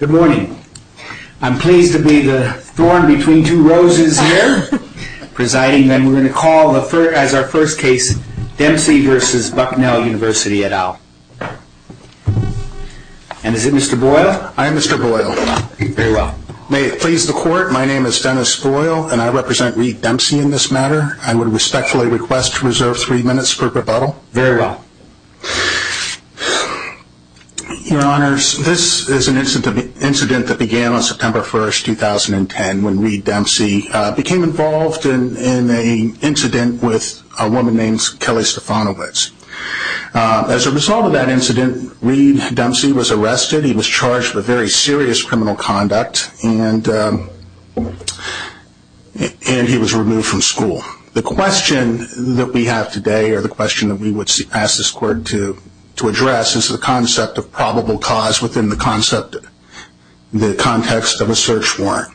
Good morning. I'm pleased to be the thorn between two roses here, presiding that we're going to call as our first case Dempsey v. Bucknell University, etal. And is it Mr. Boyle? I am Mr. Boyle. Very well. May it please the court, my name is Dennis Boyle, and I represent Reed Dempsey in this matter. I would respectfully request to reserve three minutes for rebuttal. Very well. Your Honors, this is an incident that began on September 1st, 2010, when Reed Dempsey became involved in an incident with a woman named Kelly Stefanowitz. As a result of that incident, Reed Dempsey was arrested. He was charged with very serious criminal conduct, and he was removed from school. The question that we have today, or the question that we would ask this court to address, is the concept of probable cause within the context of a search warrant.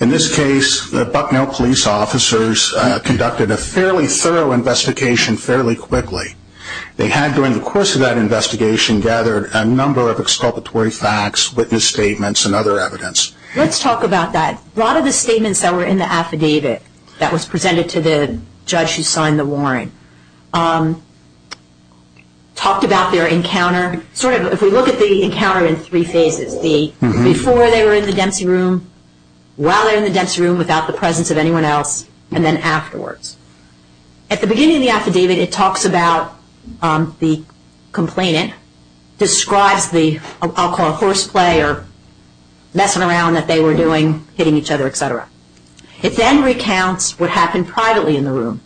In this case, the Bucknell police officers conducted a fairly thorough investigation fairly quickly. They had, during the course of that investigation, gathered a number of exculpatory facts, witness statements, and other evidence. Let's talk about that. A lot of the statements that were in the affidavit that was presented to the judge who signed the warrant talked about their encounter. If we look at the encounter in three phases, the before they were in the Dempsey room, while they were in the Dempsey room without the presence of anyone else, and then afterwards. At the beginning of the affidavit, it talks about the complainant, describes the, I'll call it, horseplay or messing around that they were doing, hitting each other, etc. It then recounts what happened privately in the room.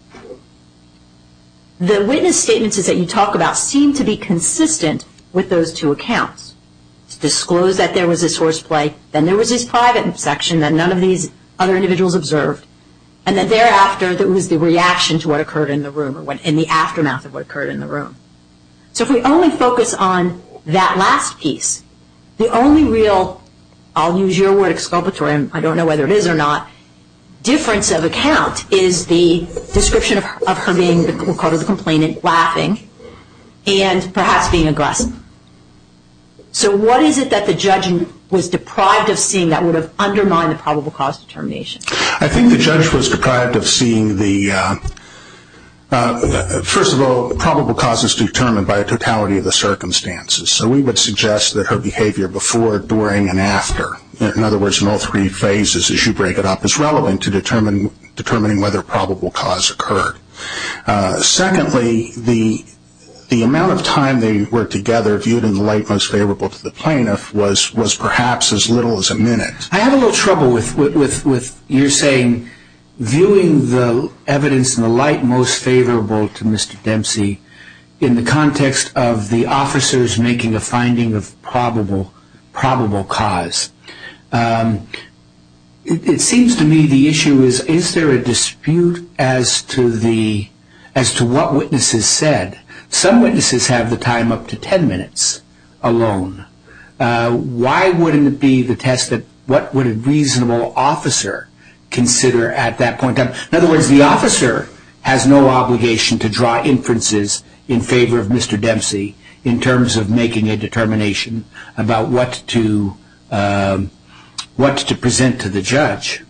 The witness statements that you talk about seem to be consistent with those two accounts. It disclosed that there was this horseplay, then there was this private section that none of these other individuals observed, and then thereafter there was the reaction to what occurred in the room or in the aftermath of what occurred in the room. So if we only focus on that last piece, the only real, I'll use your word, exculpatory, and I don't know whether it is or not, the only difference of account is the description of her being, we'll call her the complainant, laughing and perhaps being aggressive. So what is it that the judge was deprived of seeing that would have undermined the probable cause determination? I think the judge was deprived of seeing the, first of all, probable causes determined by a totality of the circumstances. So we would suggest that her behavior before, during, and after, in other words, in all three phases as you break it up, is relevant to determining whether a probable cause occurred. Secondly, the amount of time they were together viewed in the light most favorable to the plaintiff was perhaps as little as a minute. I have a little trouble with your saying viewing the evidence in the light most favorable to Mr. Dempsey in the context of the officers making a finding of probable cause. It seems to me the issue is, is there a dispute as to what witnesses said? Some witnesses have the time up to ten minutes alone. Why wouldn't it be the test that what would a reasonable officer consider at that point? In other words, the officer has no obligation to draw inferences in favor of Mr. Dempsey in terms of making a determination about what to present to the judge.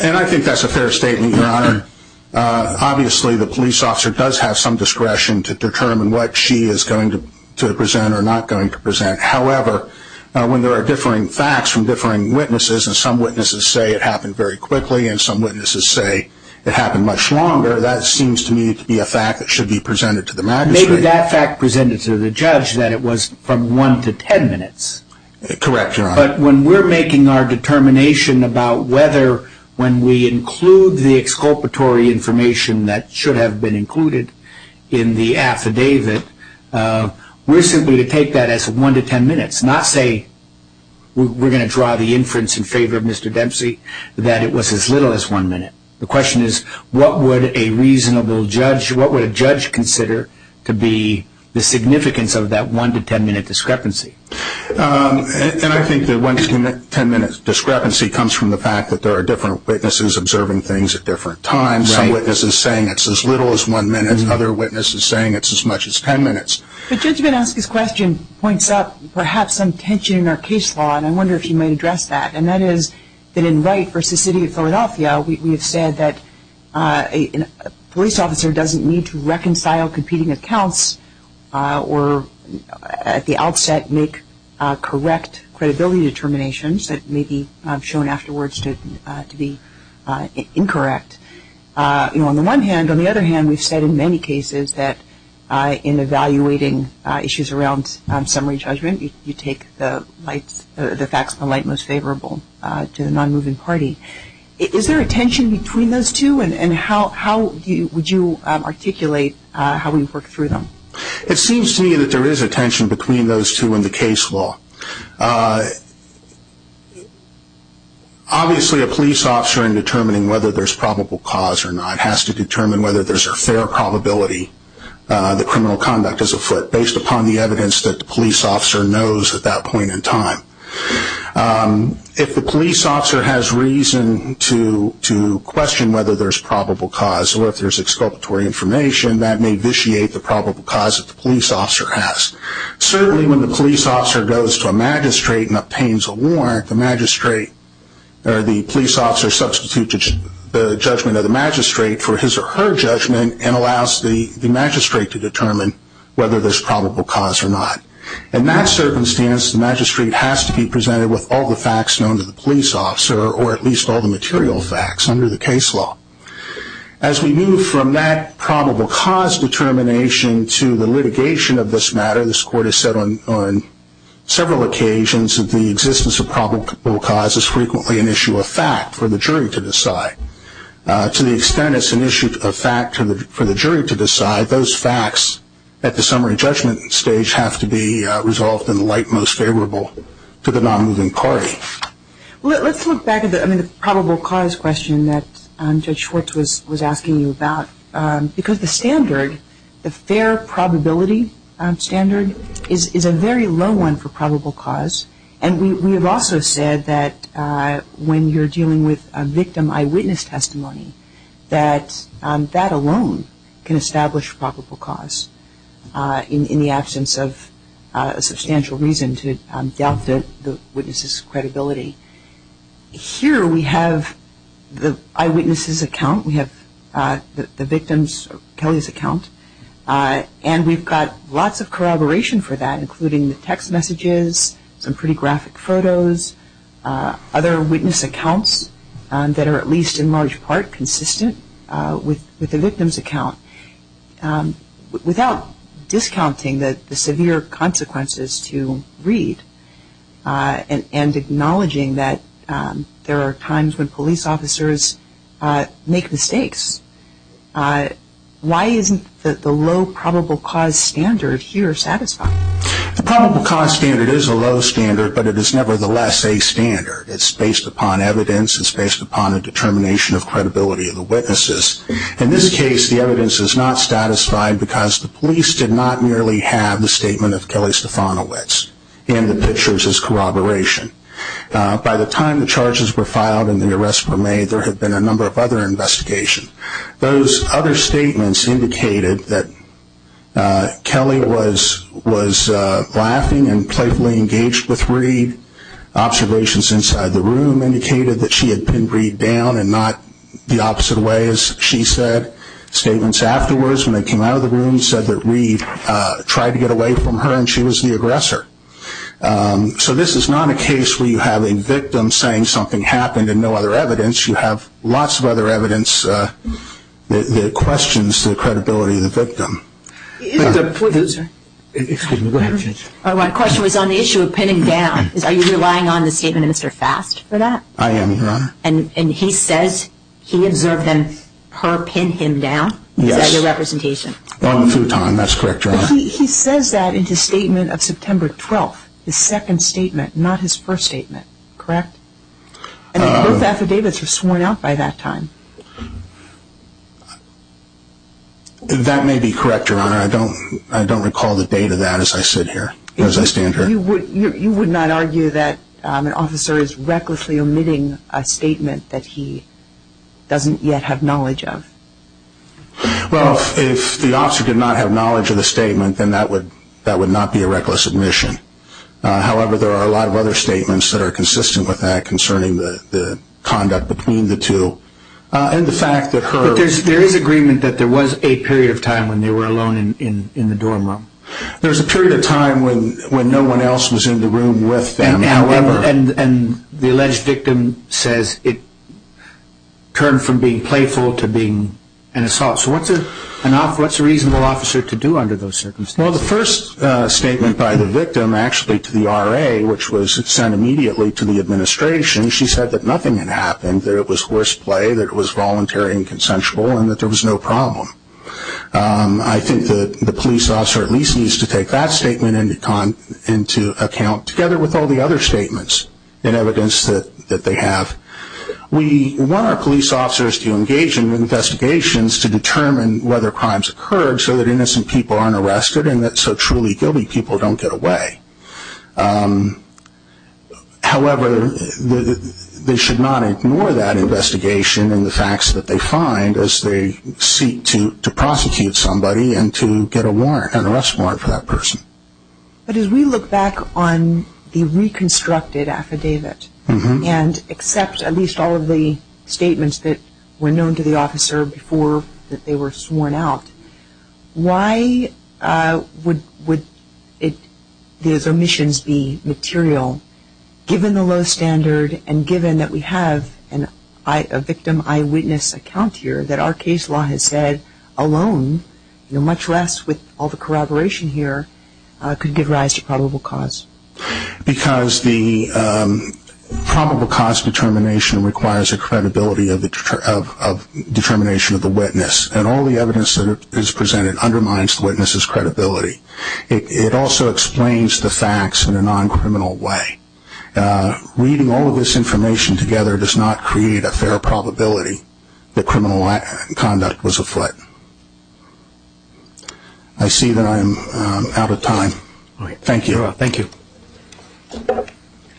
And I think that's a fair statement, Your Honor. Obviously, the police officer does have some discretion to determine what she is going to present or not going to present. However, when there are differing facts from differing witnesses, and some witnesses say it happened very quickly and some witnesses say it happened much longer, that seems to me to be a fact that should be presented to the magistrate. Maybe that fact presented to the judge that it was from one to ten minutes. Correct, Your Honor. But when we're making our determination about whether, when we include the exculpatory information that should have been included in the affidavit, we're simply going to take that as one to ten minutes, not say we're going to draw the inference in favor of Mr. Dempsey that it was as little as one minute. The question is, what would a reasonable judge, what would a judge consider to be the significance of that one to ten minute discrepancy? And I think the one to ten minute discrepancy comes from the fact that there are different witnesses observing things at different times. Some witnesses saying it's as little as one minute, and other witnesses saying it's as much as ten minutes. The judgment asked this question points out perhaps some tension in our case law, and I wonder if you might address that. And that is that in Wright v. City of Philadelphia, we have said that a police officer doesn't need to reconcile competing accounts or at the outset make correct credibility determinations that may be shown afterwards to be incorrect. On the one hand, on the other hand, we've said in many cases that in evaluating issues around summary judgment, you take the facts in the light most favorable to the non-moving party. Is there a tension between those two, and how would you articulate how we work through them? It seems to me that there is a tension between those two in the case law. Obviously, a police officer in determining whether there's probable cause or not has to determine whether there's a fair probability that criminal conduct is afoot, based upon the evidence that the police officer knows at that point in time. If the police officer has reason to question whether there's probable cause or if there's exculpatory information, that may vitiate the probable cause that the police officer has. Certainly, when the police officer goes to a magistrate and obtains a warrant, the magistrate or the police officer substitutes the judgment of the magistrate for his or her judgment and allows the magistrate to determine whether there's probable cause or not. In that circumstance, the magistrate has to be presented with all the facts known to the police officer, or at least all the material facts under the case law. As we move from that probable cause determination to the litigation of this matter, this Court has said on several occasions that the existence of probable cause is frequently an issue of fact for the jury to decide. To the extent it's an issue of fact for the jury to decide, those facts at the summary judgment stage have to be resolved in the light most favorable to the non-moving party. Let's look back at the probable cause question that Judge Schwartz was asking you about. Because the standard, the fair probability standard, is a very low one for probable cause. And we have also said that when you're dealing with a victim eyewitness testimony, that that alone can establish probable cause in the absence of a substantial reason to doubt the witness's credibility. Here we have the eyewitness's account. We have the victim's, Kelly's, account. And we've got lots of corroboration for that, including the text messages, some pretty graphic photos, other witness accounts that are at least in large part consistent with the victim's account. Without discounting the severe consequences to read and acknowledging that there are times when police officers make mistakes, why isn't the low probable cause standard here satisfying? The probable cause standard is a low standard, but it is nevertheless a standard. It's based upon evidence. It's based upon a determination of credibility of the witnesses. In this case, the evidence is not satisfied because the police did not merely have the statement of Kelly Stefanowitz and the pictures as corroboration. By the time the charges were filed and the arrests were made, there had been a number of other investigations. Those other statements indicated that Kelly was laughing and playfully engaged with Reed. Observations inside the room indicated that she had pinned Reed down and not the opposite way, as she said. Statements afterwards when they came out of the room said that Reed tried to get away from her and she was the aggressor. So this is not a case where you have a victim saying something happened and no other evidence. You have lots of other evidence that questions the credibility of the victim. My question was on the issue of pinning down. Are you relying on the statement of Mr. Fast for that? I am, Your Honor. And he says he observed her pin him down as a representation? On the futon, that's correct, Your Honor. He says that in his statement of September 12th, his second statement, not his first statement, correct? And both affidavits were sworn out by that time. That may be correct, Your Honor. I don't recall the date of that as I sit here, as I stand here. You would not argue that an officer is recklessly omitting a statement that he doesn't yet have knowledge of? Well, if the officer did not have knowledge of the statement, then that would not be a reckless omission. However, there are a lot of other statements that are consistent with that concerning the conduct between the two. But there is agreement that there was a period of time when they were alone in the dorm room? There was a period of time when no one else was in the room with them. And the alleged victim says it turned from being playful to being an assault. So what's a reasonable officer to do under those circumstances? Well, the first statement by the victim actually to the RA, which was sent immediately to the administration, she said that nothing had happened, that it was horseplay, that it was voluntary and consensual, and that there was no problem. I think that the police officer at least needs to take that statement into account, together with all the other statements and evidence that they have. We want our police officers to engage in investigations to determine whether crimes occurred so that innocent people aren't arrested and that so truly guilty people don't get away. However, they should not ignore that investigation and the facts that they find as they seek to prosecute somebody and to get an arrest warrant for that person. But as we look back on the reconstructed affidavit and accept at least all of the statements that were known to the officer before that they were sworn out, why would these omissions be material given the low standard and given that we have a victim eyewitness account here that our case law has said alone, much less with all the corroboration here, could give rise to probable cause? Because the probable cause determination requires a credibility of determination of the witness, and all the evidence that is presented undermines the witness's credibility. It also explains the facts in a non-criminal way. Reading all of this information together does not create a fair probability that criminal conduct was afoot. I see that I am out of time. Thank you.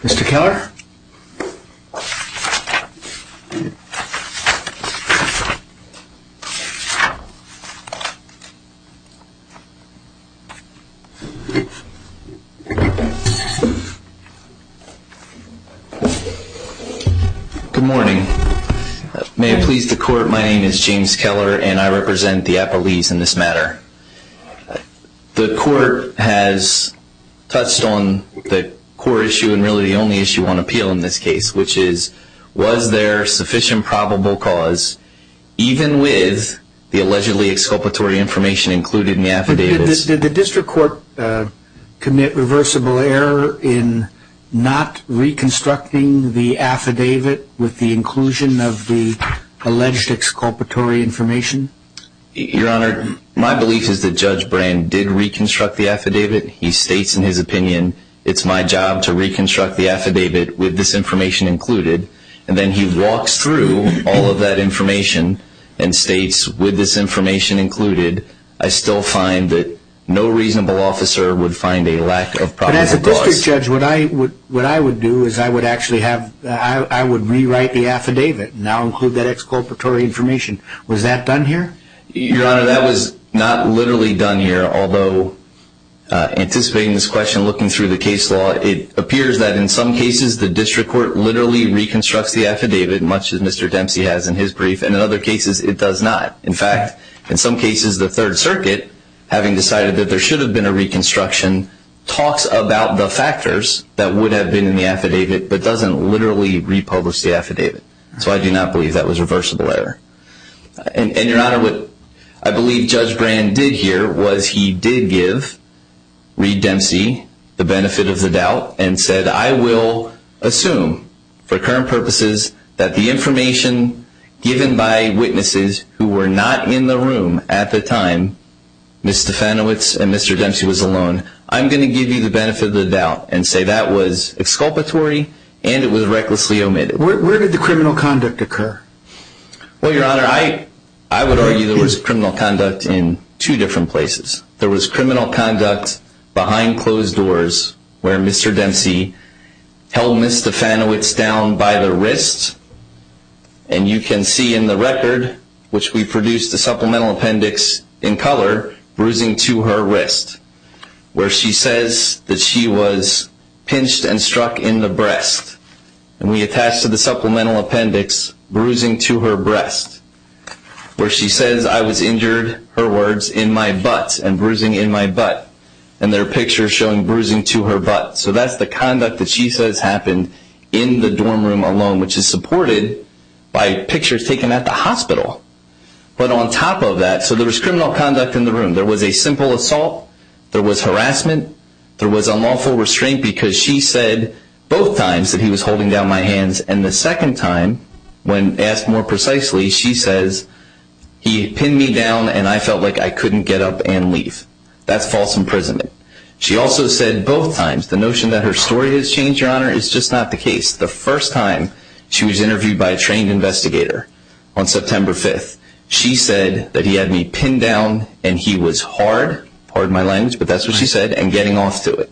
Mr. Keller? Good morning. May it please the court, my name is James Keller and I represent the Appalachians in this matter. The court has touched on the core issue and really the only issue on appeal in this case, which is was there sufficient probable cause, even with the allegedly exculpatory information included in the affidavits? Did the district court commit reversible error in not reconstructing the affidavit with the inclusion of the alleged exculpatory information? Your Honor, my belief is that Judge Brand did reconstruct the affidavit. He states in his opinion, it's my job to reconstruct the affidavit with this information included, and then he walks through all of that information and states, with this information included, I still find that no reasonable officer would find a lack of probable cause. But as a district judge, what I would do is I would actually have, I would rewrite the affidavit and now include that exculpatory information. Was that done here? Your Honor, that was not literally done here, although anticipating this question, looking through the case law, it appears that in some cases the district court literally reconstructs the affidavit, much as Mr. Dempsey has in his brief, and in other cases it does not. In fact, in some cases the Third Circuit, having decided that there should have been a reconstruction, talks about the factors that would have been in the affidavit, but doesn't literally republish the affidavit. So I do not believe that was a reversible error. And Your Honor, what I believe Judge Brand did here was he did give Reed Dempsey the benefit of the doubt and said, I will assume, for current purposes, that the information given by witnesses who were not in the room at the time Mr. Fenowitz and Mr. Dempsey was alone, I'm going to give you the benefit of the doubt and say that was exculpatory and it was recklessly omitted. Where did the criminal conduct occur? Well, Your Honor, I would argue there was criminal conduct in two different places. There was criminal conduct behind closed doors, where Mr. Dempsey held Ms. Stefanowitz down by the wrist, and you can see in the record, which we produced a supplemental appendix in color, bruising to her wrist, where she says that she was pinched and struck in the breast. And we attached to the supplemental appendix, bruising to her breast, where she says I was injured, her words, in my butt, and bruising in my butt. And there are pictures showing bruising to her butt. So that's the conduct that she says happened in the dorm room alone, which is supported by pictures taken at the hospital. But on top of that, so there was criminal conduct in the room. There was a simple assault, there was harassment, there was unlawful restraint, because she said both times that he was holding down my hands, and the second time, when asked more precisely, she says he pinned me down and I felt like I couldn't get up and leave. That's false imprisonment. She also said both times the notion that her story has changed, Your Honor, is just not the case. The first time she was interviewed by a trained investigator on September 5th, she said that he had me pinned down and he was hard, pardon my language, but that's what she said, and getting off to it.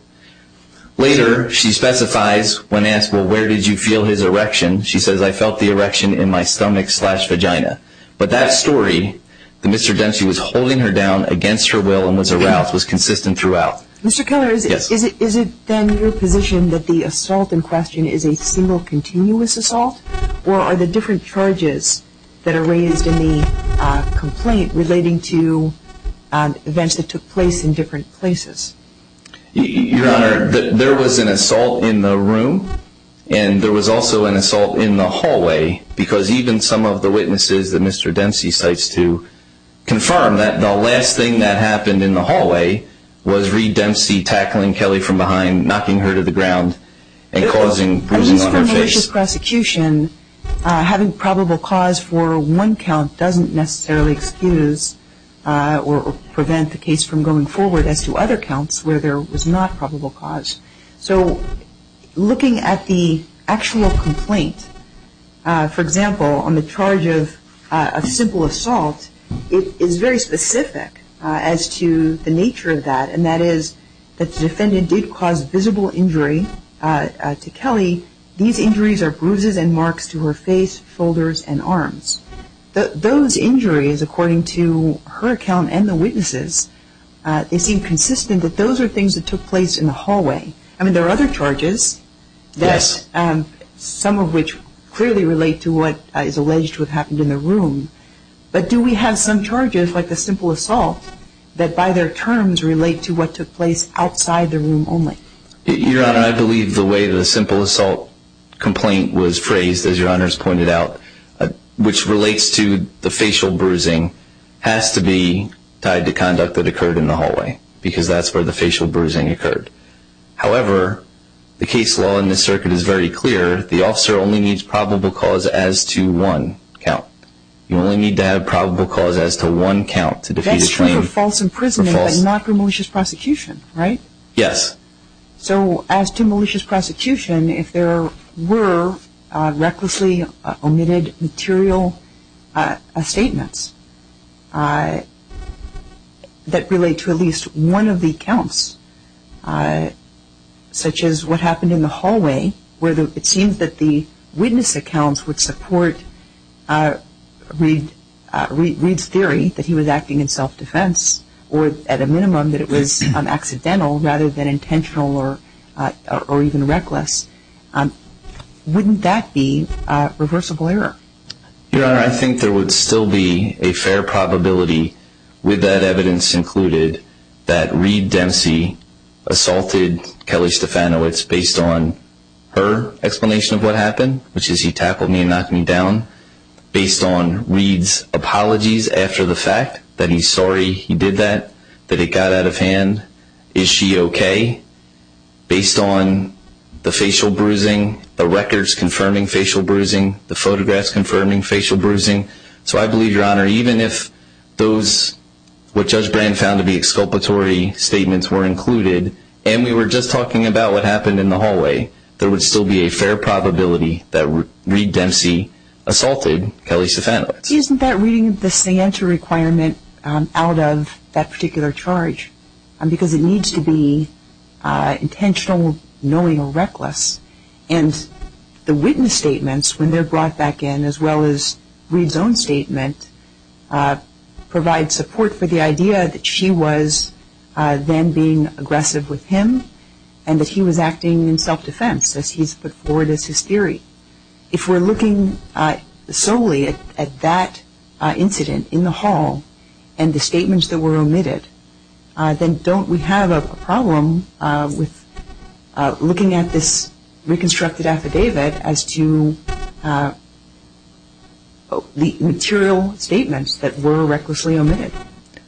Later, she specifies, when asked, well, where did you feel his erection, she says I felt the erection in my stomach slash vagina. But that story, that Mr. Dempsey was holding her down against her will and was aroused, was consistent throughout. Mr. Keller, is it then your position that the assault in question is a single continuous assault, or are the different charges that are raised in the complaint relating to events that took place in different places? Your Honor, there was an assault in the room, and there was also an assault in the hallway, because even some of the witnesses that Mr. Dempsey cites to confirm that the last thing that happened in the hallway was Reed Dempsey tackling Kelly from behind, knocking her to the ground, and causing bruising on her face. At least for a malicious prosecution, having probable cause for one count doesn't necessarily excuse or prevent the case from going forward as to other counts where there was not probable cause. So looking at the actual complaint, for example, on the charge of simple assault, it is very specific as to the nature of that, and that is that the defendant did cause visible injury to Kelly. These injuries are bruises and marks to her face, shoulders, and arms. Those injuries, according to her account and the witnesses, they seem consistent that those are things that took place in the hallway. I mean, there are other charges, some of which clearly relate to what is alleged to have happened in the room, but do we have some charges, like the simple assault, that by their terms relate to what took place outside the room only? Your Honor, I believe the way the simple assault complaint was phrased, as Your Honor has pointed out, which relates to the facial bruising, has to be tied to conduct that occurred in the hallway, because that's where the facial bruising occurred. However, the case law in this circuit is very clear. The officer only needs probable cause as to one count. You only need to have probable cause as to one count to defeat a claim. That's true for false imprisonment, but not for malicious prosecution, right? Yes. So as to malicious prosecution, if there were recklessly omitted material statements that relate to at least one of the counts, such as what happened in the hallway, where it seems that the witness accounts would support Reed's theory that he was acting in self-defense, or at a minimum that it was accidental rather than intentional or even reckless, wouldn't that be reversible error? Your Honor, I think there would still be a fair probability, with that evidence included, that Reed Dempsey assaulted Kelly Stefanowicz based on her explanation of what happened, which is he tackled me and knocked me down, based on Reed's apologies after the fact that he's sorry he did that, that it got out of hand. Is she okay? Based on the facial bruising, the records confirming facial bruising, the photographs confirming facial bruising. So I believe, Your Honor, even if what Judge Brand found to be exculpatory statements were included, there would still be a fair probability that Reed Dempsey assaulted Kelly Stefanowicz. Isn't that reading the sanctuary requirement out of that particular charge? Because it needs to be intentional, knowing, or reckless. And the witness statements, when they're brought back in, as well as Reed's own statement, provide support for the idea that she was then being aggressive with him and that he was acting in self-defense, as he's put forward as his theory. If we're looking solely at that incident in the hall and the statements that were omitted, then don't we have a problem with looking at this reconstructed affidavit as to the material statements that were recklessly omitted?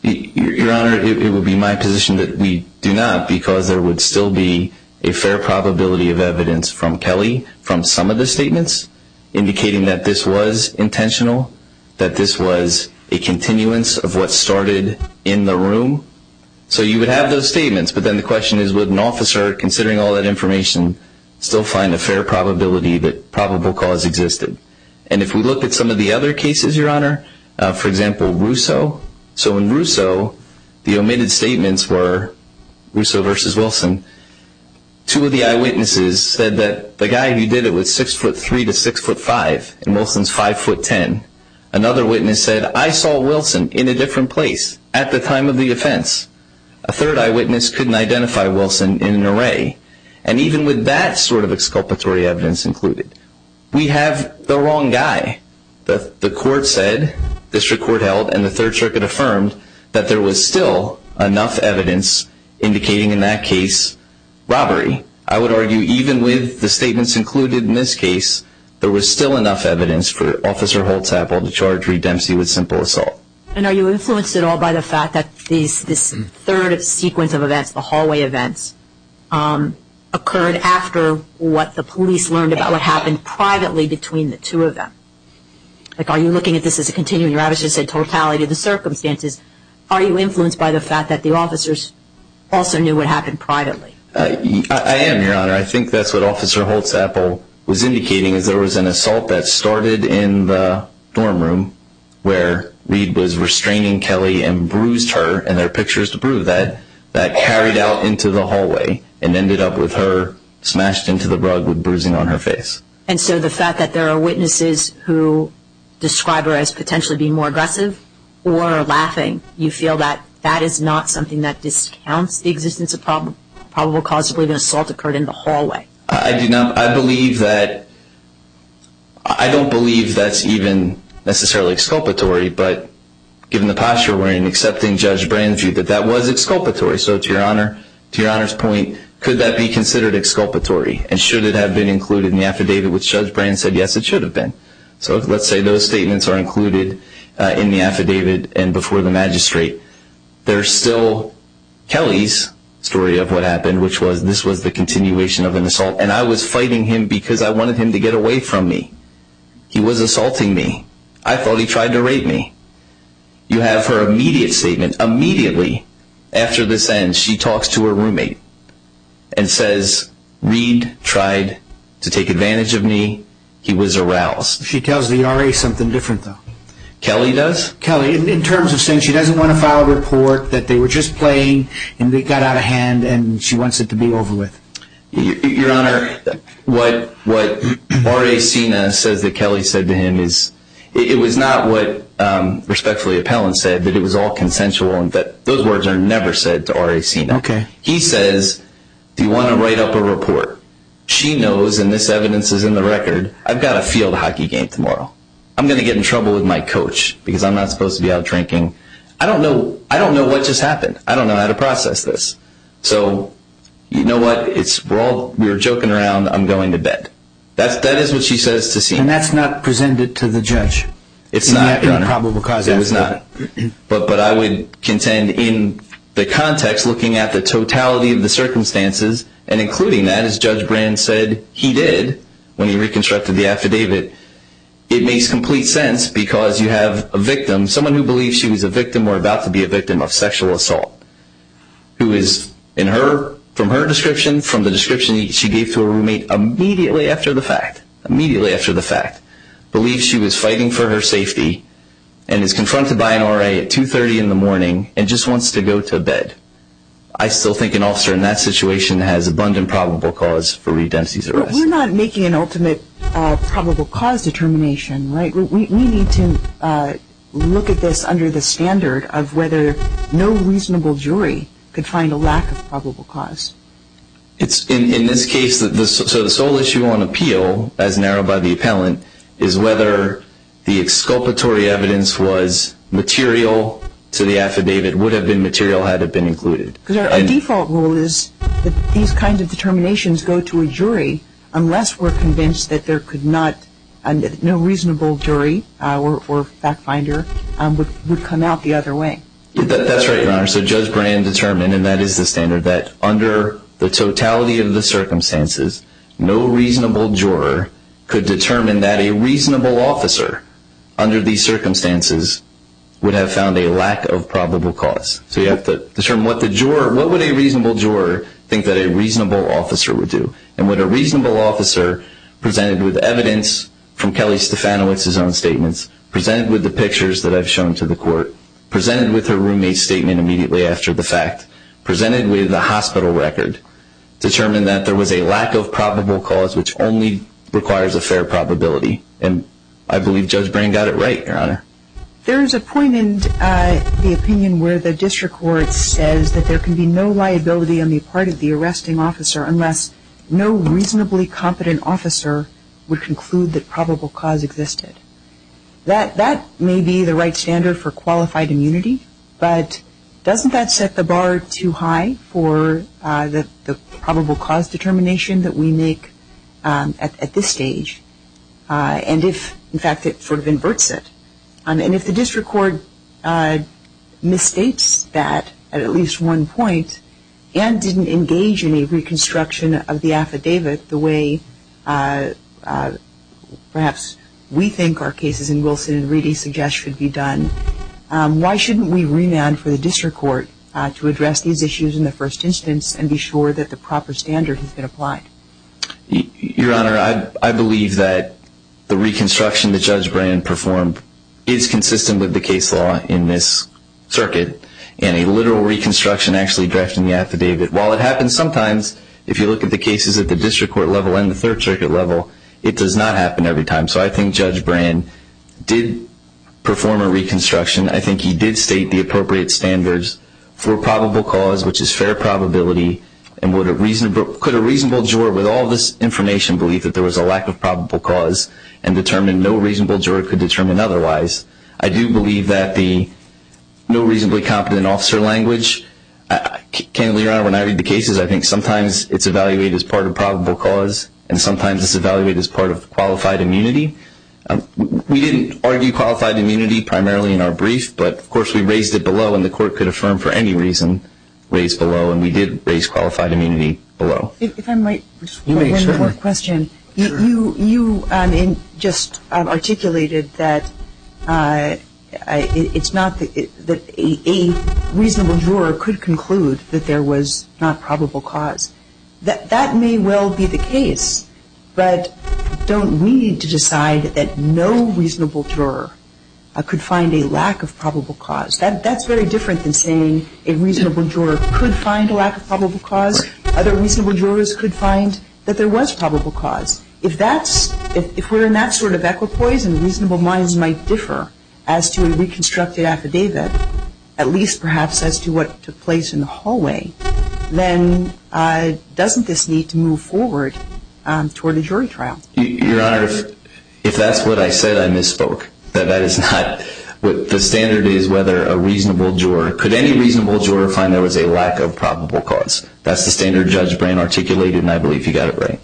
Your Honor, it would be my position that we do not, because there would still be a fair probability of evidence from Kelly from some of the statements indicating that this was intentional, that this was a continuance of what started in the room. So you would have those statements. But then the question is, would an officer, considering all that information, still find a fair probability that probable cause existed? And if we look at some of the other cases, Your Honor, for example, Russo. So in Russo, the omitted statements were Russo versus Wilson. Two of the eyewitnesses said that the guy who did it was 6'3 to 6'5 and Wilson's 5'10. Another witness said, I saw Wilson in a different place at the time of the offense. A third eyewitness couldn't identify Wilson in an array. And even with that sort of exculpatory evidence included, we have the wrong guy. The court said, district court held, and the Third Circuit affirmed, that there was still enough evidence indicating in that case robbery. I would argue even with the statements included in this case, there was still enough evidence for Officer Holtz-Apple to charge Redempsey with simple assault. And are you influenced at all by the fact that this third sequence of events, the hallway events, occurred after what the police learned about what happened privately between the two of them? Like, are you looking at this as a continuing rabbit hole? You said totality of the circumstances. Are you influenced by the fact that the officers also knew what happened privately? I am, Your Honor. I think that's what Officer Holtz-Apple was indicating, is there was an assault that started in the dorm room where Reed was restraining Kelly and bruised her, and there are pictures to prove that, that carried out into the hallway and ended up with her smashed into the rug with bruising on her face. And so the fact that there are witnesses who describe her as potentially being more aggressive or laughing, you feel that that is not something that discounts the existence of probable cause to believe an assault occurred in the hallway? I do not. I believe that, I don't believe that's even necessarily exculpatory, but given the posture we're in, accepting Judge Brand's view, that that was exculpatory. So to Your Honor's point, could that be considered exculpatory? And should it have been included in the affidavit which Judge Brand said, yes, it should have been. So let's say those statements are included in the affidavit and before the magistrate. There's still Kelly's story of what happened, which was this was the continuation of an assault, and I was fighting him because I wanted him to get away from me. He was assaulting me. I thought he tried to rape me. You have her immediate statement. Immediately after this ends, she talks to her roommate and says, Reed tried to take advantage of me. He was aroused. She tells the RA something different though. Kelly does? Kelly, in terms of saying she doesn't want to file a report that they were just playing and they got out of hand and she wants it to be over with. Your Honor, what RA Cena says that Kelly said to him is, it was not what Respectfully Appellant said, that it was all consensual. Those words are never said to RA Cena. He says, do you want to write up a report? She knows, and this evidence is in the record, I've got a field hockey game tomorrow. I'm going to get in trouble with my coach because I'm not supposed to be out drinking. I don't know what just happened. I don't know how to process this. So you know what? We were joking around. I'm going to bed. That is what she says to Cena. And that's not presented to the judge? It's not, Your Honor. It was not. But I would contend in the context, looking at the totality of the circumstances and including that, as Judge Brand said he did when he reconstructed the affidavit, it makes complete sense because you have a victim, someone who believes she was a victim or about to be a victim of sexual assault, who is in her, from her description, from the description she gave to her roommate immediately after the fact, immediately after the fact, believes she was fighting for her safety and is confronted by an RA at 2.30 in the morning and just wants to go to bed. I still think an officer in that situation has abundant probable cause for Redempsey's arrest. But we're not making an ultimate probable cause determination, right? We need to look at this under the standard of whether no reasonable jury could find a lack of probable cause. In this case, the sole issue on appeal, as narrowed by the appellant, is whether the exculpatory evidence was material to the affidavit, would have been material had it been included. Because our default rule is that these kinds of determinations go to a jury unless we're convinced that there could not, no reasonable jury or fact finder would come out the other way. That's right, Your Honor. So Judge Brand determined, and that is the standard, that under the totality of the circumstances, no reasonable juror could determine that a reasonable officer under these circumstances would have found a lack of probable cause. So you have to determine what would a reasonable juror think that a reasonable officer would do. And would a reasonable officer, presented with evidence from Kelly Stefanowicz's own statements, presented with the pictures that I've shown to the court, presented with her roommate's statement immediately after the fact, presented with a hospital record, determine that there was a lack of probable cause which only requires a fair probability. And I believe Judge Brand got it right, Your Honor. There is a point in the opinion where the district court says that there can be no liability on the part of the arresting officer unless no reasonably competent officer would conclude that probable cause existed. That may be the right standard for qualified immunity, but doesn't that set the bar too high for the probable cause determination that we make at this stage? And if, in fact, it sort of inverts it, and if the district court misstates that at at least one point and didn't engage in a reconstruction of the affidavit the way perhaps we think our cases in Wilson and Reedy suggest should be done, why shouldn't we remand for the district court to address these issues in the first instance and be sure that the proper standard has been applied? Your Honor, I believe that the reconstruction that Judge Brand performed is consistent with the case law in this circuit, and a literal reconstruction actually drafting the affidavit, while it happens sometimes if you look at the cases at the district court level and the third circuit level, it does not happen every time. So I think Judge Brand did perform a reconstruction. I think he did state the appropriate standards for probable cause, which is fair probability, and could a reasonable juror with all this information believe that there was a lack of probable cause and determine no reasonable juror could determine otherwise? I do believe that the no reasonably competent officer language, candidly, Your Honor, when I read the cases, I think sometimes it's evaluated as part of probable cause, and sometimes it's evaluated as part of qualified immunity. We didn't argue qualified immunity primarily in our brief, but of course we raised it below, and the court could affirm for any reason raised below, and we did raise qualified immunity below. If I might respond to another question. You just articulated that it's not that a reasonable juror could conclude that there was not probable cause. That may well be the case, but don't we need to decide that no reasonable juror could find a lack of probable cause? That's very different than saying a reasonable juror could find a lack of probable cause. Other reasonable jurors could find that there was probable cause. If we're in that sort of equipoise and reasonable minds might differ as to a reconstructed affidavit, at least perhaps as to what took place in the hallway, then doesn't this need to move forward toward a jury trial? Your Honor, if that's what I said, I misspoke. The standard is whether a reasonable juror, could any reasonable juror find there was a lack of probable cause? That's the standard judge brain articulated, and I believe you got it right.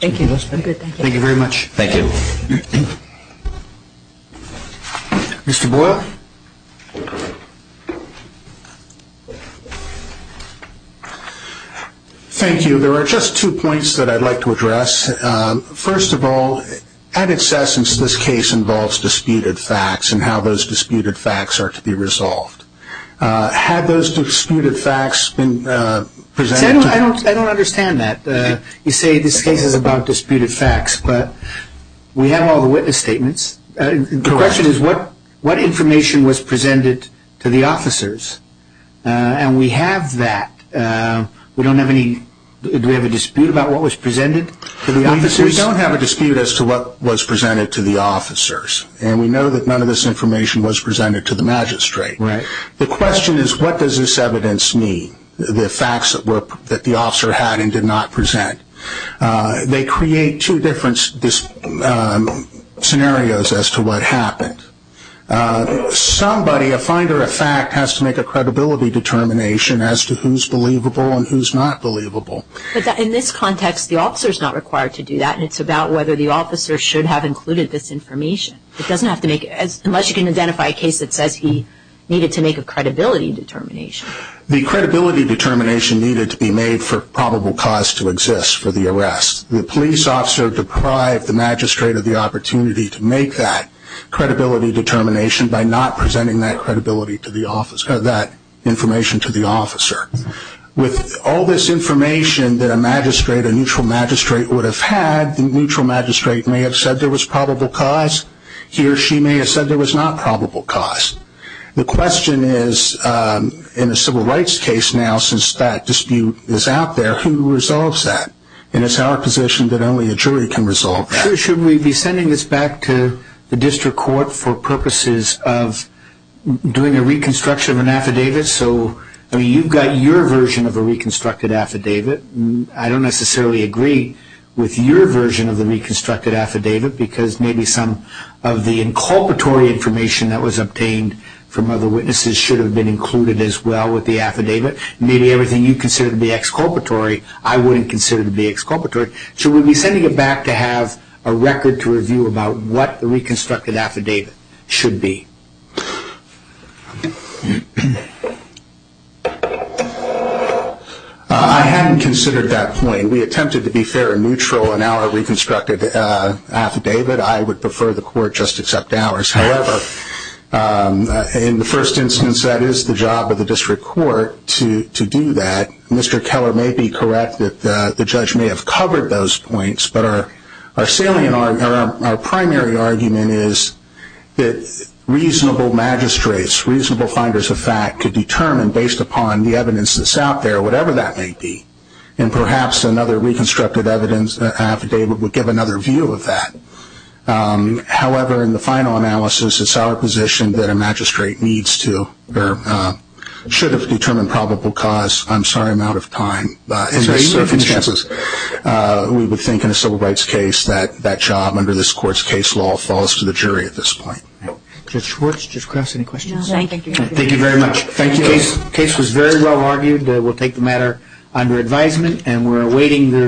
Thank you. Thank you very much. Thank you. Mr. Boyle. Thank you. There are just two points that I'd like to address. First of all, at its essence, this case involves disputed facts and how those disputed facts are to be resolved. Had those disputed facts been presented to you? I don't understand that. You say this case is about disputed facts, but we have all the witness statements. The question is what information was presented to the officers, and we have that. Do we have a dispute about what was presented to the officers? We don't have a dispute as to what was presented to the officers, and we know that none of this information was presented to the magistrate. The question is what does this evidence mean, the facts that the officer had and did not present? They create two different scenarios as to what happened. Somebody, a finder of fact, has to make a credibility determination as to who's believable and who's not believable. But in this context, the officer's not required to do that, and it's about whether the officer should have included this information. It doesn't have to make it, unless you can identify a case that says he needed to make a credibility determination. The credibility determination needed to be made for probable cause to exist for the arrest. The police officer deprived the magistrate of the opportunity to make that credibility determination by not presenting that information to the officer. With all this information that a magistrate, a neutral magistrate, would have had, the neutral magistrate may have said there was probable cause. He or she may have said there was not probable cause. The question is, in a civil rights case now, since that dispute is out there, who resolves that? And it's our position that only a jury can resolve that. Should we be sending this back to the district court for purposes of doing a reconstruction of an affidavit? So you've got your version of a reconstructed affidavit. I don't necessarily agree with your version of the reconstructed affidavit because maybe some of the inculpatory information that was obtained from other witnesses should have been included as well with the affidavit. Maybe everything you consider to be exculpatory, I wouldn't consider to be exculpatory. Should we be sending it back to have a record to review about what the reconstructed affidavit should be? I hadn't considered that point. We attempted to be fair and neutral in our reconstructed affidavit. I would prefer the court just accept ours. However, in the first instance, that is the job of the district court to do that. Mr. Keller may be correct that the judge may have covered those points, but our primary argument is that reasonable magistrates, reasonable finders of fact, could determine based upon the evidence that's out there whatever that may be. And perhaps another reconstructed affidavit would give another view of that. However, in the final analysis, it's our position that a magistrate needs to or should have determined probable cause. I'm sorry I'm out of time. In this circumstance, we would think in a civil rights case that that job under this court's case law falls to the jury at this point. Judge Schwartz, Judge Krause, any questions? No, thank you. Thank you very much. The case was very well argued. We'll take the matter under advisement and we're awaiting the